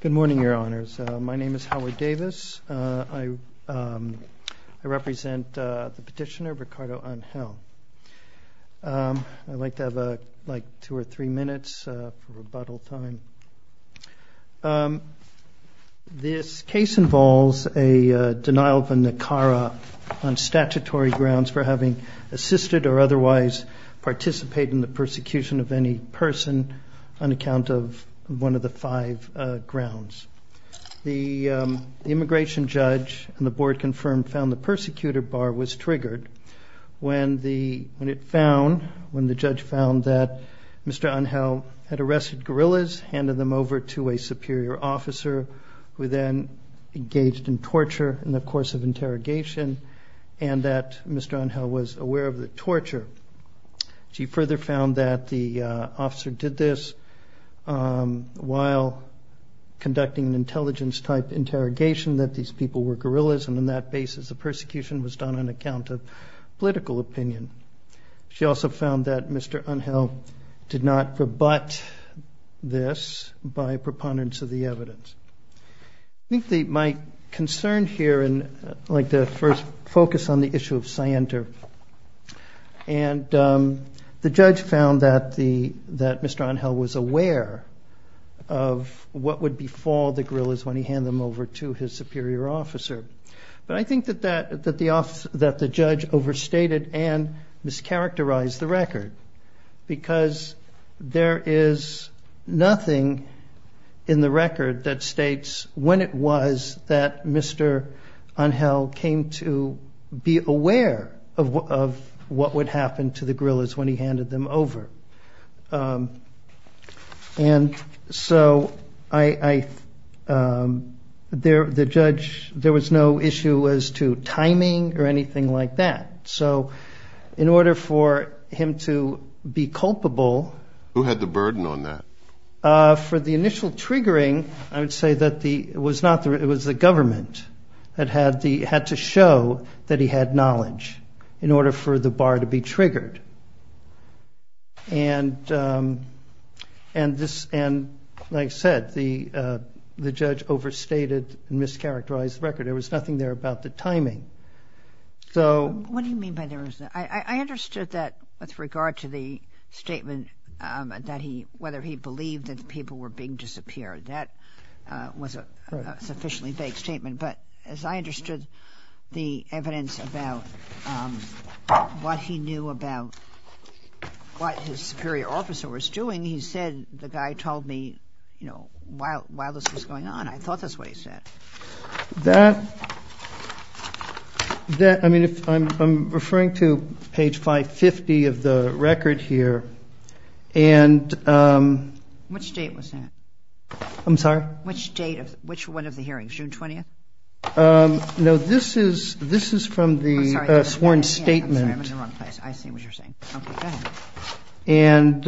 Good morning, Your Honors. My name is Howard Davis. I represent the Petitioner, Ricardo Angel. I'd like to have two or three minutes for rebuttal time. This case involves a denial of a Nicara on statutory grounds for having assisted or otherwise participated in the persecution of any person on account of one of the five grounds. The immigration judge and the board confirmed found the persecutor bar was triggered when the judge found that Mr. Angel had arrested guerrillas, handed them over to a superior officer, who then engaged in torture in the course of interrogation and that Mr. Angel was aware of the torture. She further found that the officer did this while conducting an intelligence type interrogation that these people were guerrillas and on that basis the persecution was done on account of political opinion. She also found that Mr. Angel did not rebut this by proponents of the evidence. I think my concern here, I'd like to first focus on the issue of scienter. The judge found that Mr. Angel was aware of what would befall the guerrillas when he handed them over to his superior officer. But I think that the judge overstated and mischaracterized the record because there is nothing in the record that states when it was that Mr. Angel came to be aware of what would happen to the guerrillas when he handed them over. And so the judge, there was no issue as to timing or anything like that. So in order for him to be culpable. Who had the burden on that? For the initial triggering, I would say that it was the government that had to show that he had knowledge in order for the bar to be triggered. And like I said, the judge overstated and mischaracterized the record. There was nothing there about the timing. What do you mean by there was nothing? I understood that with regard to the statement that he, whether he believed that the people were being disappeared. That was a sufficiently vague statement. But as I understood the evidence about what he knew about what his superior officer was doing, he said, the guy told me, you know, while this was going on, I thought that's what he said. That, that, I mean, if I'm referring to page 550 of the record here. And which date was that? I'm sorry? Which date of which one of the hearings, June 20th? No, this is, this is from the sworn statement. And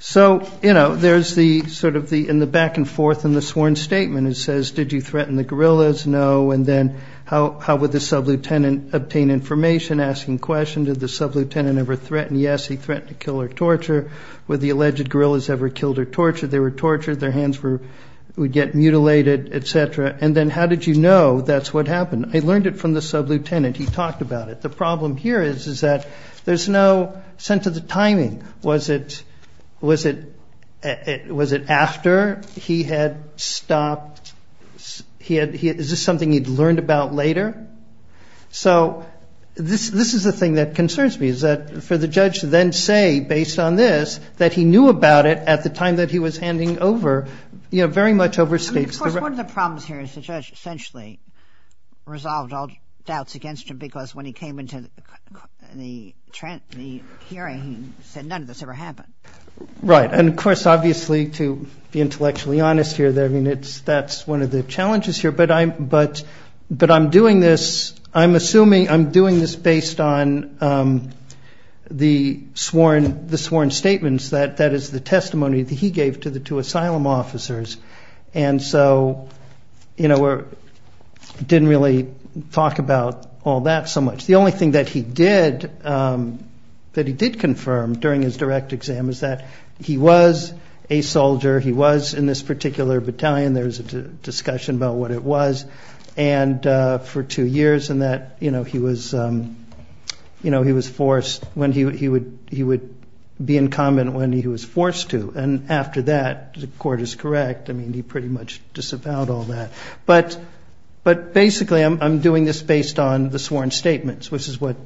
so, you know, there's the sort of the, in the back and forth in the sworn statement, it says, did you threaten the guerrillas? No. And then how, how would the sub-lieutenant obtain information asking questions? Did the sub-lieutenant ever threaten? Yes. He threatened to kill or torture. Were the alleged guerrillas ever killed or tortured? They were tortured. Their hands were, would get mutilated, et cetera. And then how did you know that's what happened? I learned it from the sub-lieutenant. He talked about it. The problem here is, is that there's no sense of the timing. Was it, was it, was it after he had stopped? He had, is this something he'd learned about later? So this, this is the thing that concerns me, is that for the judge to then say, based on this, that he knew about it at the time that he was handing over, you know, very much overstates. One of the problems here is the judge essentially resolved all doubts against him because when he came into the hearing, he said none of this ever happened. Right. And of course, obviously to be intellectually honest here, I mean, it's, that's one of the challenges here, but I'm, but, but I'm doing this, I'm assuming I'm doing this based on the sworn, the sworn statements that, that is the testimony that he gave to the two asylum officers. And so, you know, we're, didn't really talk about all that so much. The only thing that he did, that he did confirm during his direct exam is that he was a soldier. He was in this particular battalion. There's a discussion about what it was and for two years and that, you know, he was, you know, he was forced when he would, he would, he would be in common when he was forced to. And after that, the court is correct. I mean, he pretty much disavowed all that, but, but basically I'm, I'm doing this based on the sworn statements, which is what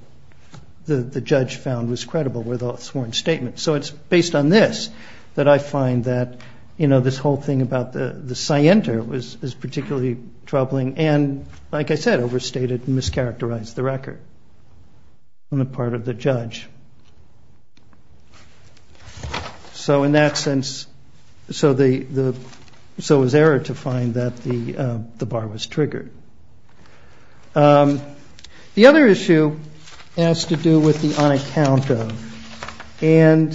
the judge found was credible with all sworn statements. So it's based on this that I find that, you know, this whole thing about the, the scienter was, is particularly troubling. And like I said, overstated, mischaracterized the record on the part of the judge. So in that sense, so the, the, so it was error to find that the, the bar was triggered. The other issue has to do with the unaccount of. And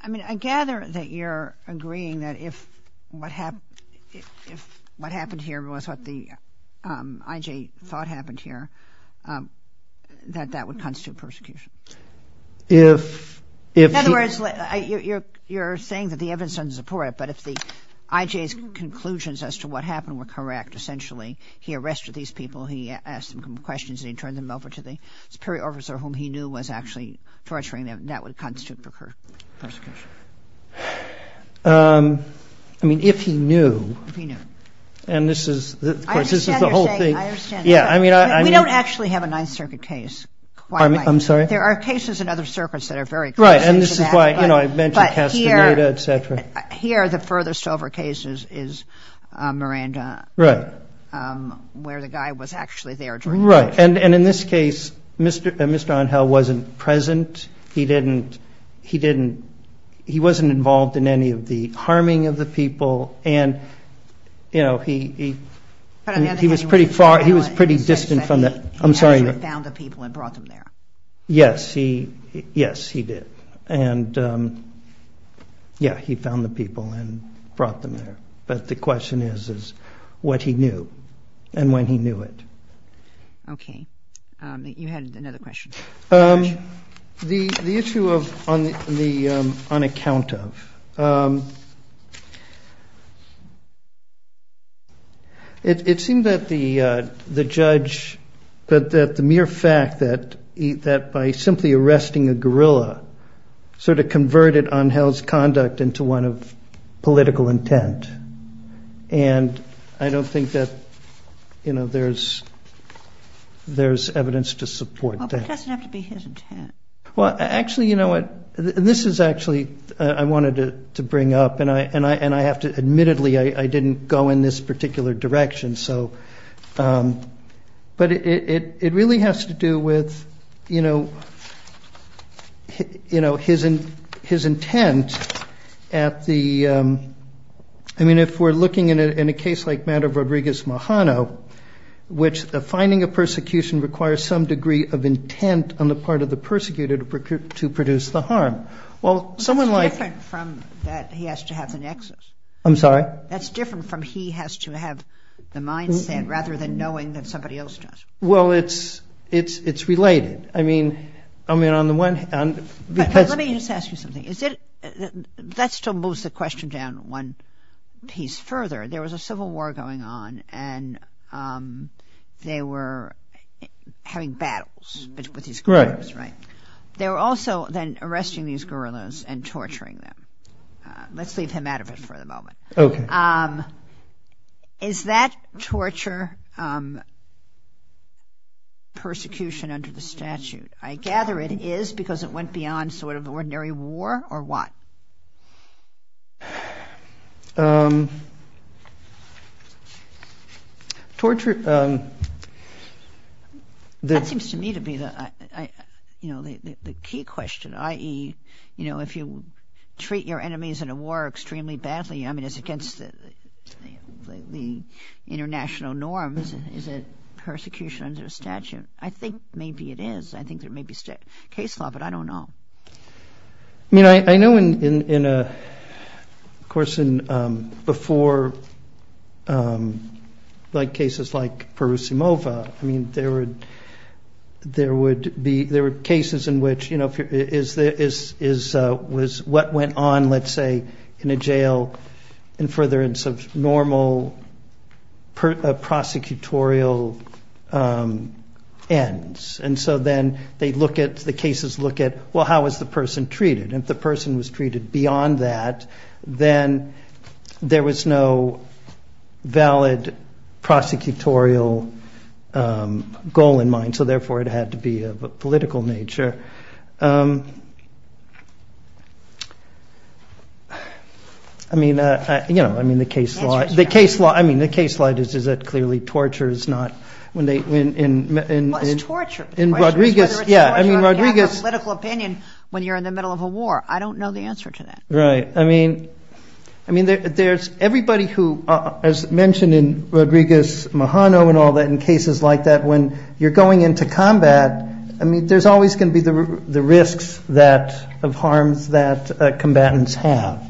I mean, I gather that you're agreeing that if what happened, if what happened here was what the IJ thought happened here, that that would constitute persecution. In other words, you're saying that the evidence doesn't support it, but if the IJ's conclusions as to what happened were correct, essentially, he arrested these people, he asked them a couple of questions, and he turned them over to the I understand. I mean, I don't actually have a ninth circuit case. I'm sorry. There are cases in other circuits that are very. Right. And this is why, you know, I mentioned Castaneda, etc. Here, the furthest over cases is Miranda, right. Where the guy was actually there. Right. And, and in this case, Mr. Mr. Onhell wasn't present. He didn't, he didn't, he wasn't involved in any of the harming of the people. And, you know, he, he was present in other cases. Pretty far. He was pretty distant from that. I'm sorry. He actually found the people and brought them there. Yes, he, yes, he did. And yeah, he found the people and brought them there. But the question is, is what he knew and when he knew it. OK. You had another question. The issue of on the on account of. It seemed that the the judge that that the mere fact that that by simply arresting a guerrilla sort of converted Onhell's conduct into one of political intent. And I don't think that, you know, there's there's evidence to support that doesn't have to be his intent. Well, actually, you know what this is actually I wanted to bring up and I and I and I have to admittedly, I didn't go in this particular direction. And so but it really has to do with, you know, you know, his and his intent at the I mean, if we're looking at it in a case like that of Rodriguez Mahano, which the finding of persecution requires some degree of intent on the part of the persecuted to produce the harm. Well, someone like from that, he has to have the nexus. I'm sorry. That's different from he has to have the mindset rather than knowing that somebody else does. Well, it's it's it's related. I mean, I mean, on the one hand, because let me just ask you something. Is it that still moves the question down one piece further? There was a civil war going on and they were having battles with these groups. That's right. They were also then arresting these guerrillas and torturing them. Let's leave him out of it for the moment. OK. Is that torture? Persecution under the statute, I gather it is because it went beyond sort of ordinary war or what? Torture. That seems to me to be the, you know, the key question, i.e., you know, if you treat your enemies in a war extremely badly, I mean, it's against the international norms. Is it persecution under a statute? I think maybe it is. I think there may be case law, but I don't know. I mean, I know in a course in before like cases like Perusimova, I mean, there were there would be there were cases in which, you know, is this is was what went on, let's say, in a jail and further in some normal prosecutorial ends. And so then they look at the cases, look at, well, how is the person treated? If the person was treated beyond that, then there was no valid prosecutorial goal in mind. So therefore, it had to be of a political nature. I mean, you know, I mean, the case law, the case law, I mean, the case law is that clearly torture is not when they win in torture in Rodriguez. Yeah, I mean, Rodriguez's political opinion when you're in the middle of a war. I don't know the answer to that. Right. I mean, I mean, there's everybody who, as mentioned in Rodriguez, Mahano and all that in cases like that, when you're going into combat, I mean, there's always going to be the risks that of harms that combatants have,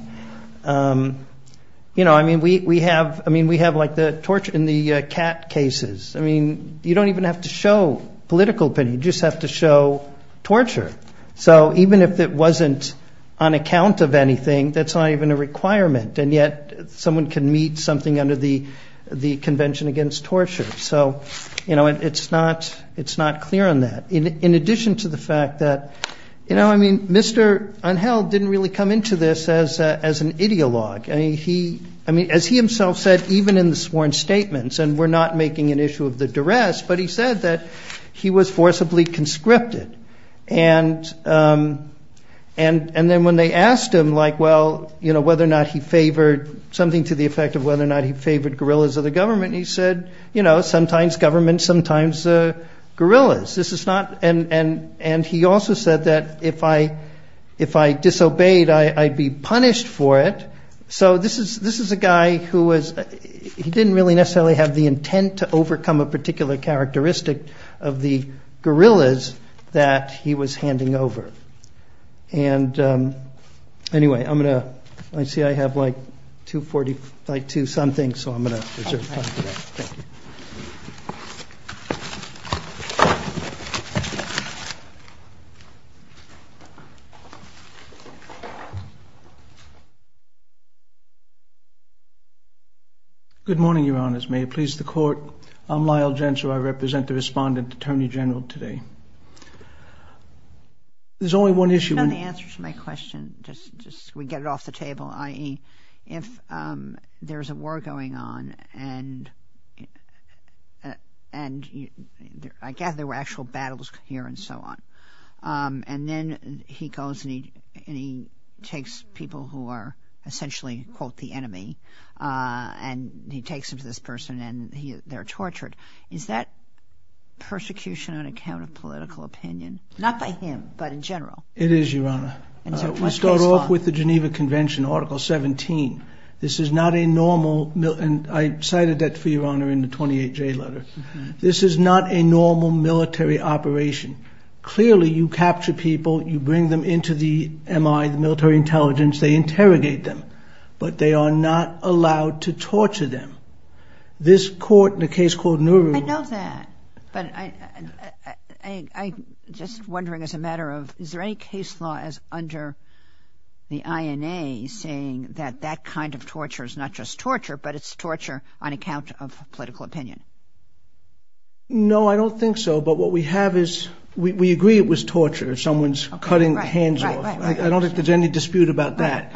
you know, I mean, we have I mean, we have like the torture in the cat cases. I mean, you don't even have to show political opinion, you just have to show torture. So even if it wasn't on account of anything, that's not even a requirement. And yet someone can meet something under the Convention Against Torture. So, you know, it's not it's not clear on that. In addition to the fact that, you know, I mean, Mr. Unheld didn't really come into this as as an ideologue. I mean, he I mean, as he himself said, even in the sworn statements, and we're not making an issue of the duress, but he said that he was forcibly conscripted. And and and then when they asked him, like, well, you know, whether or not he favored something to the effect of whether or not he favored guerrillas or the government, he said, you know, sometimes government, sometimes guerrillas. This is not and and and he also said that if I if I disobeyed, I'd be punished for it. So this is this is a guy who was he didn't really necessarily have the intent to overcome a particular characteristic of the guerrillas that he was handing over. And anyway, I'm going to see I have like 240 by two something. So I'm going to Good morning, Your Honors. May it please the Court. I'm Lyle Gentzler. I represent the Respondent Attorney General today. There's only one issue. I don't know the answer to my question. Just just we get it off the table. I mean, if there's a war going on, and and I gather there were actual battles here and so on. And then he goes and he and he takes people who are essentially, quote, the enemy. And he takes him to this person and they're tortured. Is that persecution on account of political opinion? Not by him, but in general? It is, Your Honor. We start off with the Geneva Convention, Article 17. This is not a normal. And I cited that for Your Honor in the 28J letter. This is not a normal military operation. Clearly, you capture people, you bring them into the MI, the military intelligence, they interrogate them, but they are not allowed to torture them. This court in a case called Nuru. I know that. But I just wondering as a matter of is there any case law as under the INA saying that that kind of torture is not just torture, but it's torture on account of political opinion? No, I don't think so. But what we have is we agree it was torture. Someone's cutting their hands off. I don't think there's any dispute about that.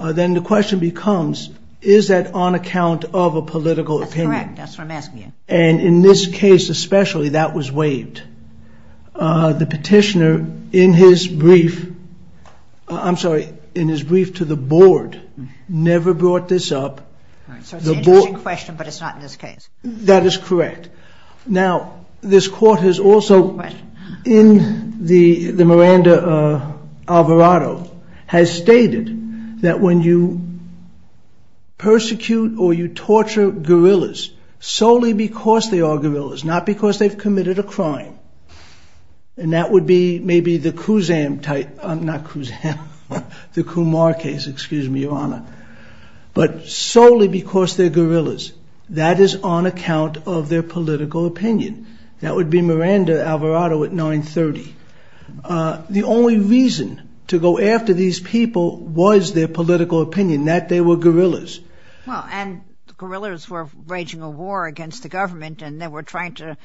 Then the question becomes, is that on account of a political opinion? That's what I'm asking you. And in this case, especially that was waived. The petitioner in his brief, I'm sorry, in his brief to the board, never brought this up. So it's an interesting question, but it's not in this case. That is correct. Now, this court has also, in the Miranda Alvarado, has stated that when you persecute or you torture guerrillas solely because they are guerrillas, not because they've committed a crime, and that would be maybe the Kusam type, not Kusam, the Kumar case, excuse me, Your Honor. But solely because they're guerrillas. That is on account of their political opinion. That would be Miranda Alvarado at 930. The only reason to go after these people was their political opinion, that they were guerrillas. Well, and the guerrillas were waging a war against the government, and they were trying to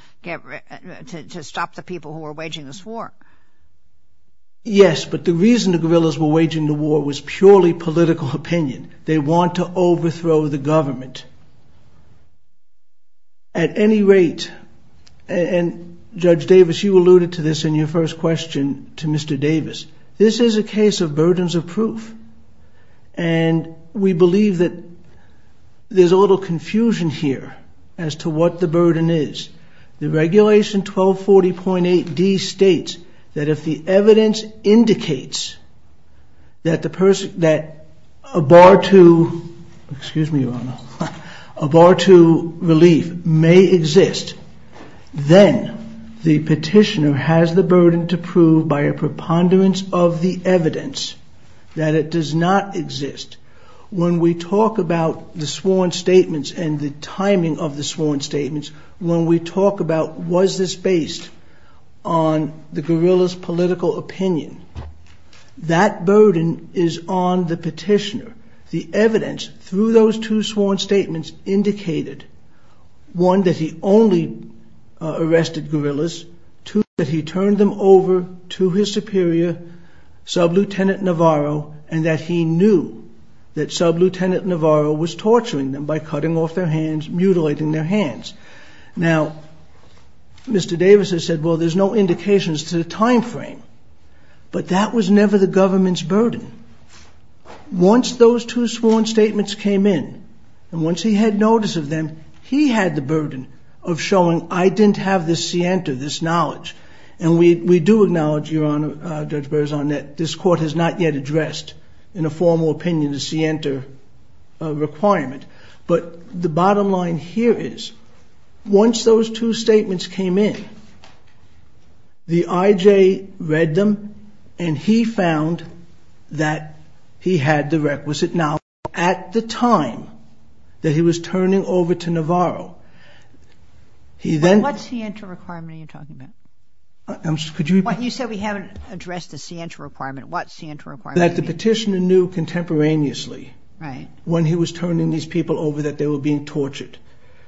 stop the people who were waging this war. Yes, but the reason the guerrillas were waging the war was purely political opinion. They want to overthrow the government. At any rate, and Judge Davis, you alluded to this in your first question to Mr. Davis, this is a case of burdens of proof. And we believe that there's a little confusion here as to what the burden is. The regulation 1240.8D states that if the evidence indicates that a bar to, excuse me, Your Honor, a bar to relief may exist, then the petitioner has the burden to prove by a preponderance of the evidence that it does not exist. When we talk about the sworn statements and the timing of the sworn statements, when we talk about was this based on the guerrillas' political opinion, that burden is on the petitioner. The evidence through those two sworn statements indicated, one, that he only arrested guerrillas, two, that he turned them over to his superior, Sub-Lieutenant Navarro, and that he knew that Sub-Lieutenant Navarro was torturing them by cutting off their hands, mutilating their hands. Now, Mr. Davis has said, well, there's no indications to the timeframe, but that was never the government's burden. Once those two sworn statements came in, and once he had notice of them, he had the burden of showing I didn't have this scienter, this knowledge. And we do acknowledge, Your Honor, Judge Berzon, that this court has not yet addressed in a formal opinion the scienter requirement. But the bottom line here is, once those two statements came in, the I.J. read them, and he found that he had the requisite knowledge at the time that he was turning over to Navarro. He then... What scienter requirement are you talking about? Could you repeat? You said we haven't addressed the scienter requirement. What scienter requirement do you mean? That the petitioner knew contemporaneously... Right. ...when he was turning these people over that they were being tortured.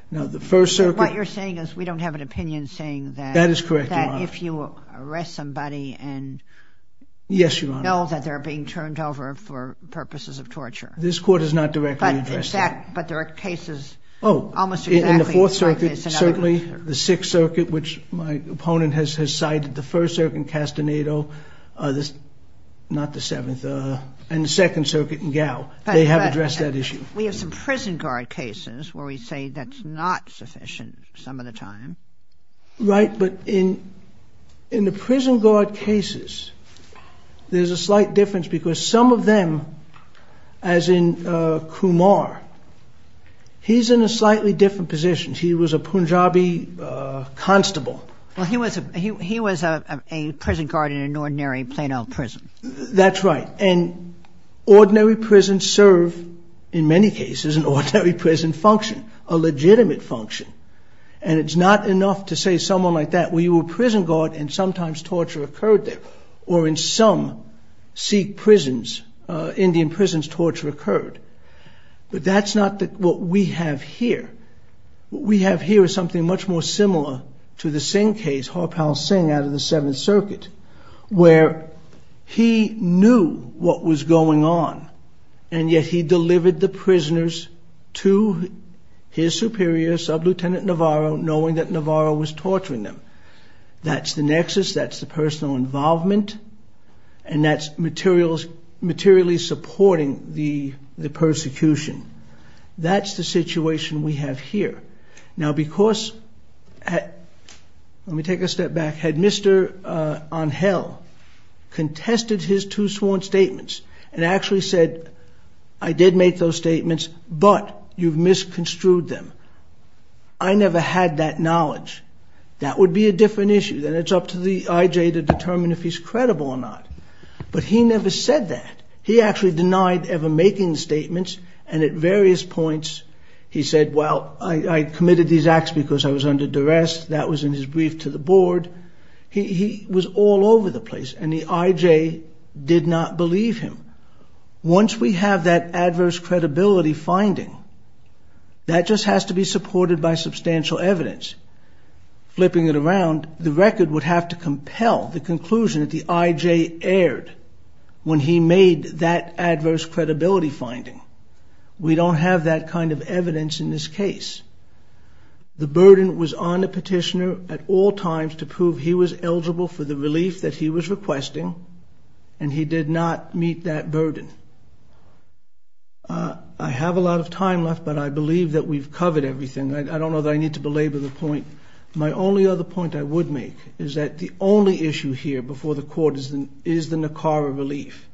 Now, the First Circuit... What you're saying is we don't have an opinion saying that... That is correct, Your Honor. ...that if you arrest somebody and... Yes, Your Honor. ...know that they're being turned over for purposes of torture. This court has not directly addressed that. But there are cases almost exactly like this... ...in the Second Circuit in Gao. They have addressed that issue. We have some prison guard cases where we say that's not sufficient some of the time. Right. But in the prison guard cases, there's a slight difference because some of them, as in Kumar, he's in a slightly different position. He was a Punjabi constable. Well, he was a prison guard in an ordinary Plano prison. That's right. And ordinary prisons serve, in many cases, an ordinary prison function, a legitimate function. And it's not enough to say someone like that. We were prison guard and sometimes torture occurred there. Or in some Sikh prisons, Indian prisons, torture occurred. But that's not what we have here. What we have here is something much more similar to the Singh case, Harpal Singh out of the Seventh Circuit... ...where he knew what was going on. And yet he delivered the prisoners to his superior, Sub-Lieutenant Navarro, knowing that Navarro was torturing them. That's the nexus. That's the personal involvement. And that's materially supporting the persecution. That's the situation we have here. Now, because... Let me take a step back. Had Mr. Anhel contested his two sworn statements and actually said, I did make those statements, but you've misconstrued them. I never had that knowledge. That would be a different issue. Then it's up to the IJ to determine if he's credible or not. But he never said that. He actually denied ever making the statements. And at various points, he said, well, I committed these acts because I was under duress. That was in his brief to the board. He was all over the place. And the IJ did not believe him. Once we have that adverse credibility finding, that just has to be supported by substantial evidence. Flipping it around, the record would have to compel the conclusion that the IJ erred... when he made that adverse credibility finding. We don't have that kind of evidence in this case. The burden was on the petitioner at all times to prove he was eligible for the relief that he was requesting. And he did not meet that burden. I have a lot of time left, but I believe that we've covered everything. I don't know that I need to belabor the point. My only other point I would make is that the only issue here before the court is the Nicara relief.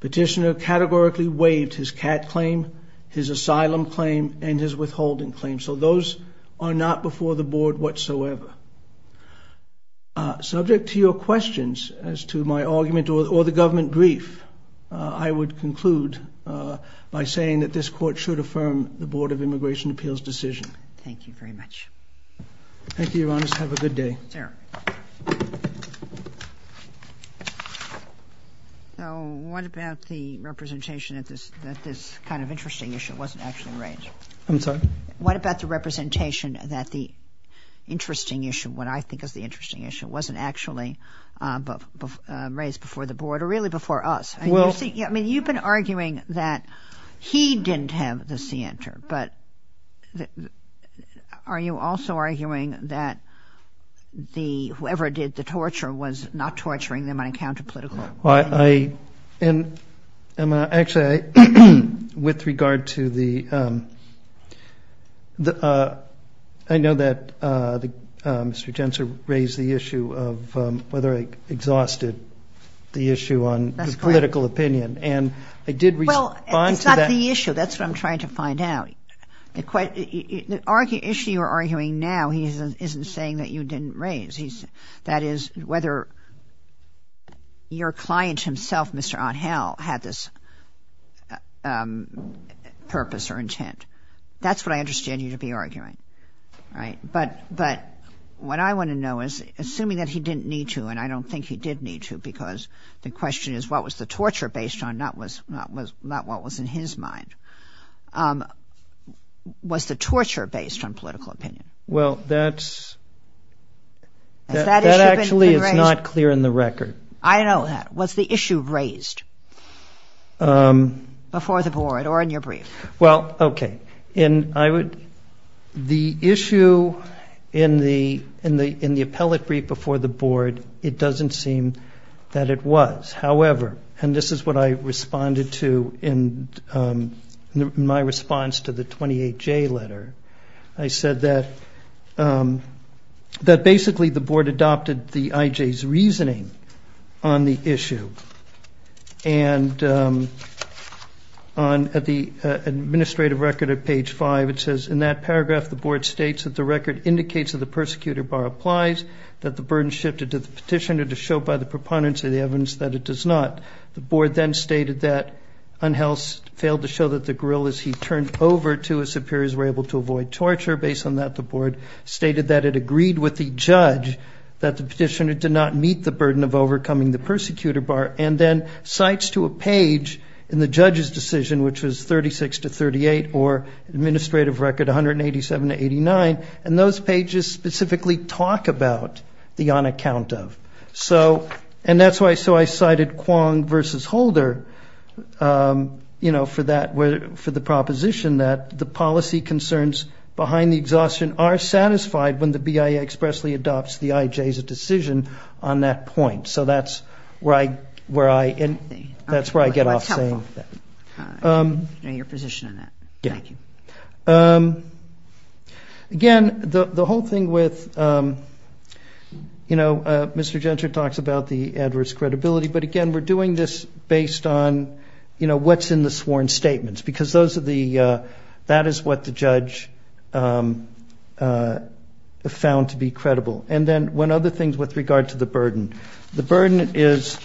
Petitioner categorically waived his CAT claim, his asylum claim, and his withholding claim. So those are not before the board whatsoever. Subject to your questions as to my argument or the government brief, I would conclude by saying that this court should affirm the Board of Immigration Appeals' decision. Thank you very much. Thank you, Your Honor. Have a good day. So what about the representation that this kind of interesting issue wasn't actually raised? I'm sorry? What about the representation that the interesting issue, what I think is the interesting issue, wasn't actually raised before the board or really before us? I mean, you've been arguing that he didn't have the scienter, but are you also arguing that whoever did the torture was not torturing them on account of political? Actually, with regard to the, I know that Mr. Jentzer raised the issue of whether I exhausted the issue on political opinion. And I did respond to that. Well, it's not the issue. That's what I'm trying to find out. The issue you're arguing now, he isn't saying that you didn't raise. That is, whether your client himself, Mr. Othell, had this purpose or intent. That's what I understand you to be arguing, right? But what I want to know is, assuming that he didn't need to, and I don't think he did need to, because the question is what was the torture based on, not what was in his mind, was the torture based on political opinion? Well, that actually is not clear in the record. I know that. Was the issue raised before the board or in your brief? Well, okay. The issue in the appellate brief before the board, it doesn't seem that it was. However, and this is what I responded to in my response to the 28J letter. I said that basically the board adopted the IJ's reasoning on the issue. And at the administrative record at page 5, it says, in that paragraph the board states that the record indicates that the persecutor bar applies, that the burden shifted to the petitioner to show by the proponents of the evidence that it does not. The board then stated that Unhels failed to show that the grill, as he turned over to his superiors, were able to avoid torture. Based on that, the board stated that it agreed with the judge that the petitioner did not meet the burden of overcoming the persecutor bar, and then cites to a page in the judge's decision, which was 36 to 38 or administrative record 187 to 89, and those pages specifically talk about the on account of. And that's why I cited Kwong versus Holder for the proposition that the policy concerns behind the exhaustion are satisfied when the BIA expressly adopts the IJ's decision on that point. So that's where I get off saying that. That's helpful. I know your position on that. Thank you. Again, the whole thing with, you know, Mr. Gentry talks about the adverse credibility, but, again, we're doing this based on, you know, what's in the sworn statements, because that is what the judge found to be credible. And then when other things with regard to the burden, the burden is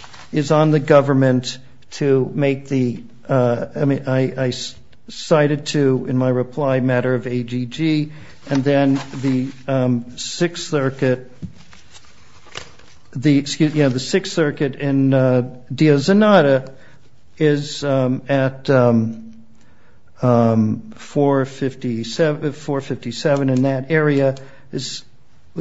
on the government to make the, I cited to in my reply a matter of AGG, and then the Sixth Circuit, the Sixth Circuit in Diazanada is at 457, and that area is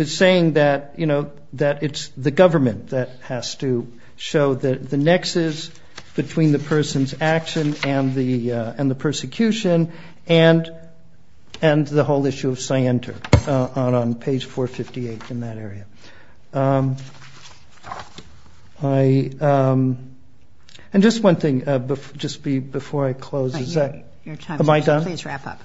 saying that, you know, that it's the government that has to show the nexus between the person's action and the persecution and the whole issue of scienter on page 458 in that area. And just one thing, just before I close. Am I done? Please wrap up.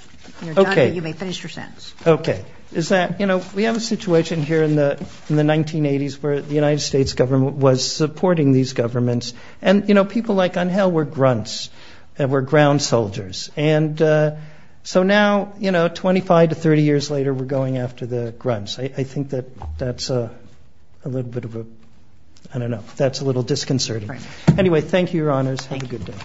Okay. You may finish your sentence. Okay. Is that, you know, we have a situation here in the 1980s where the United States government was supporting these governments, and, you know, people like Angel were grunts, were ground soldiers. And so now, you know, 25 to 30 years later, we're going after the grunts. I think that that's a little bit of a, I don't know, that's a little disconcerting. Anyway, thank you, Your Honors. Thank you. Have a good day.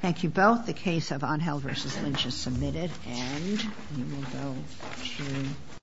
Thank you both. The case of Angel v. Lynch is submitted, and we will go to.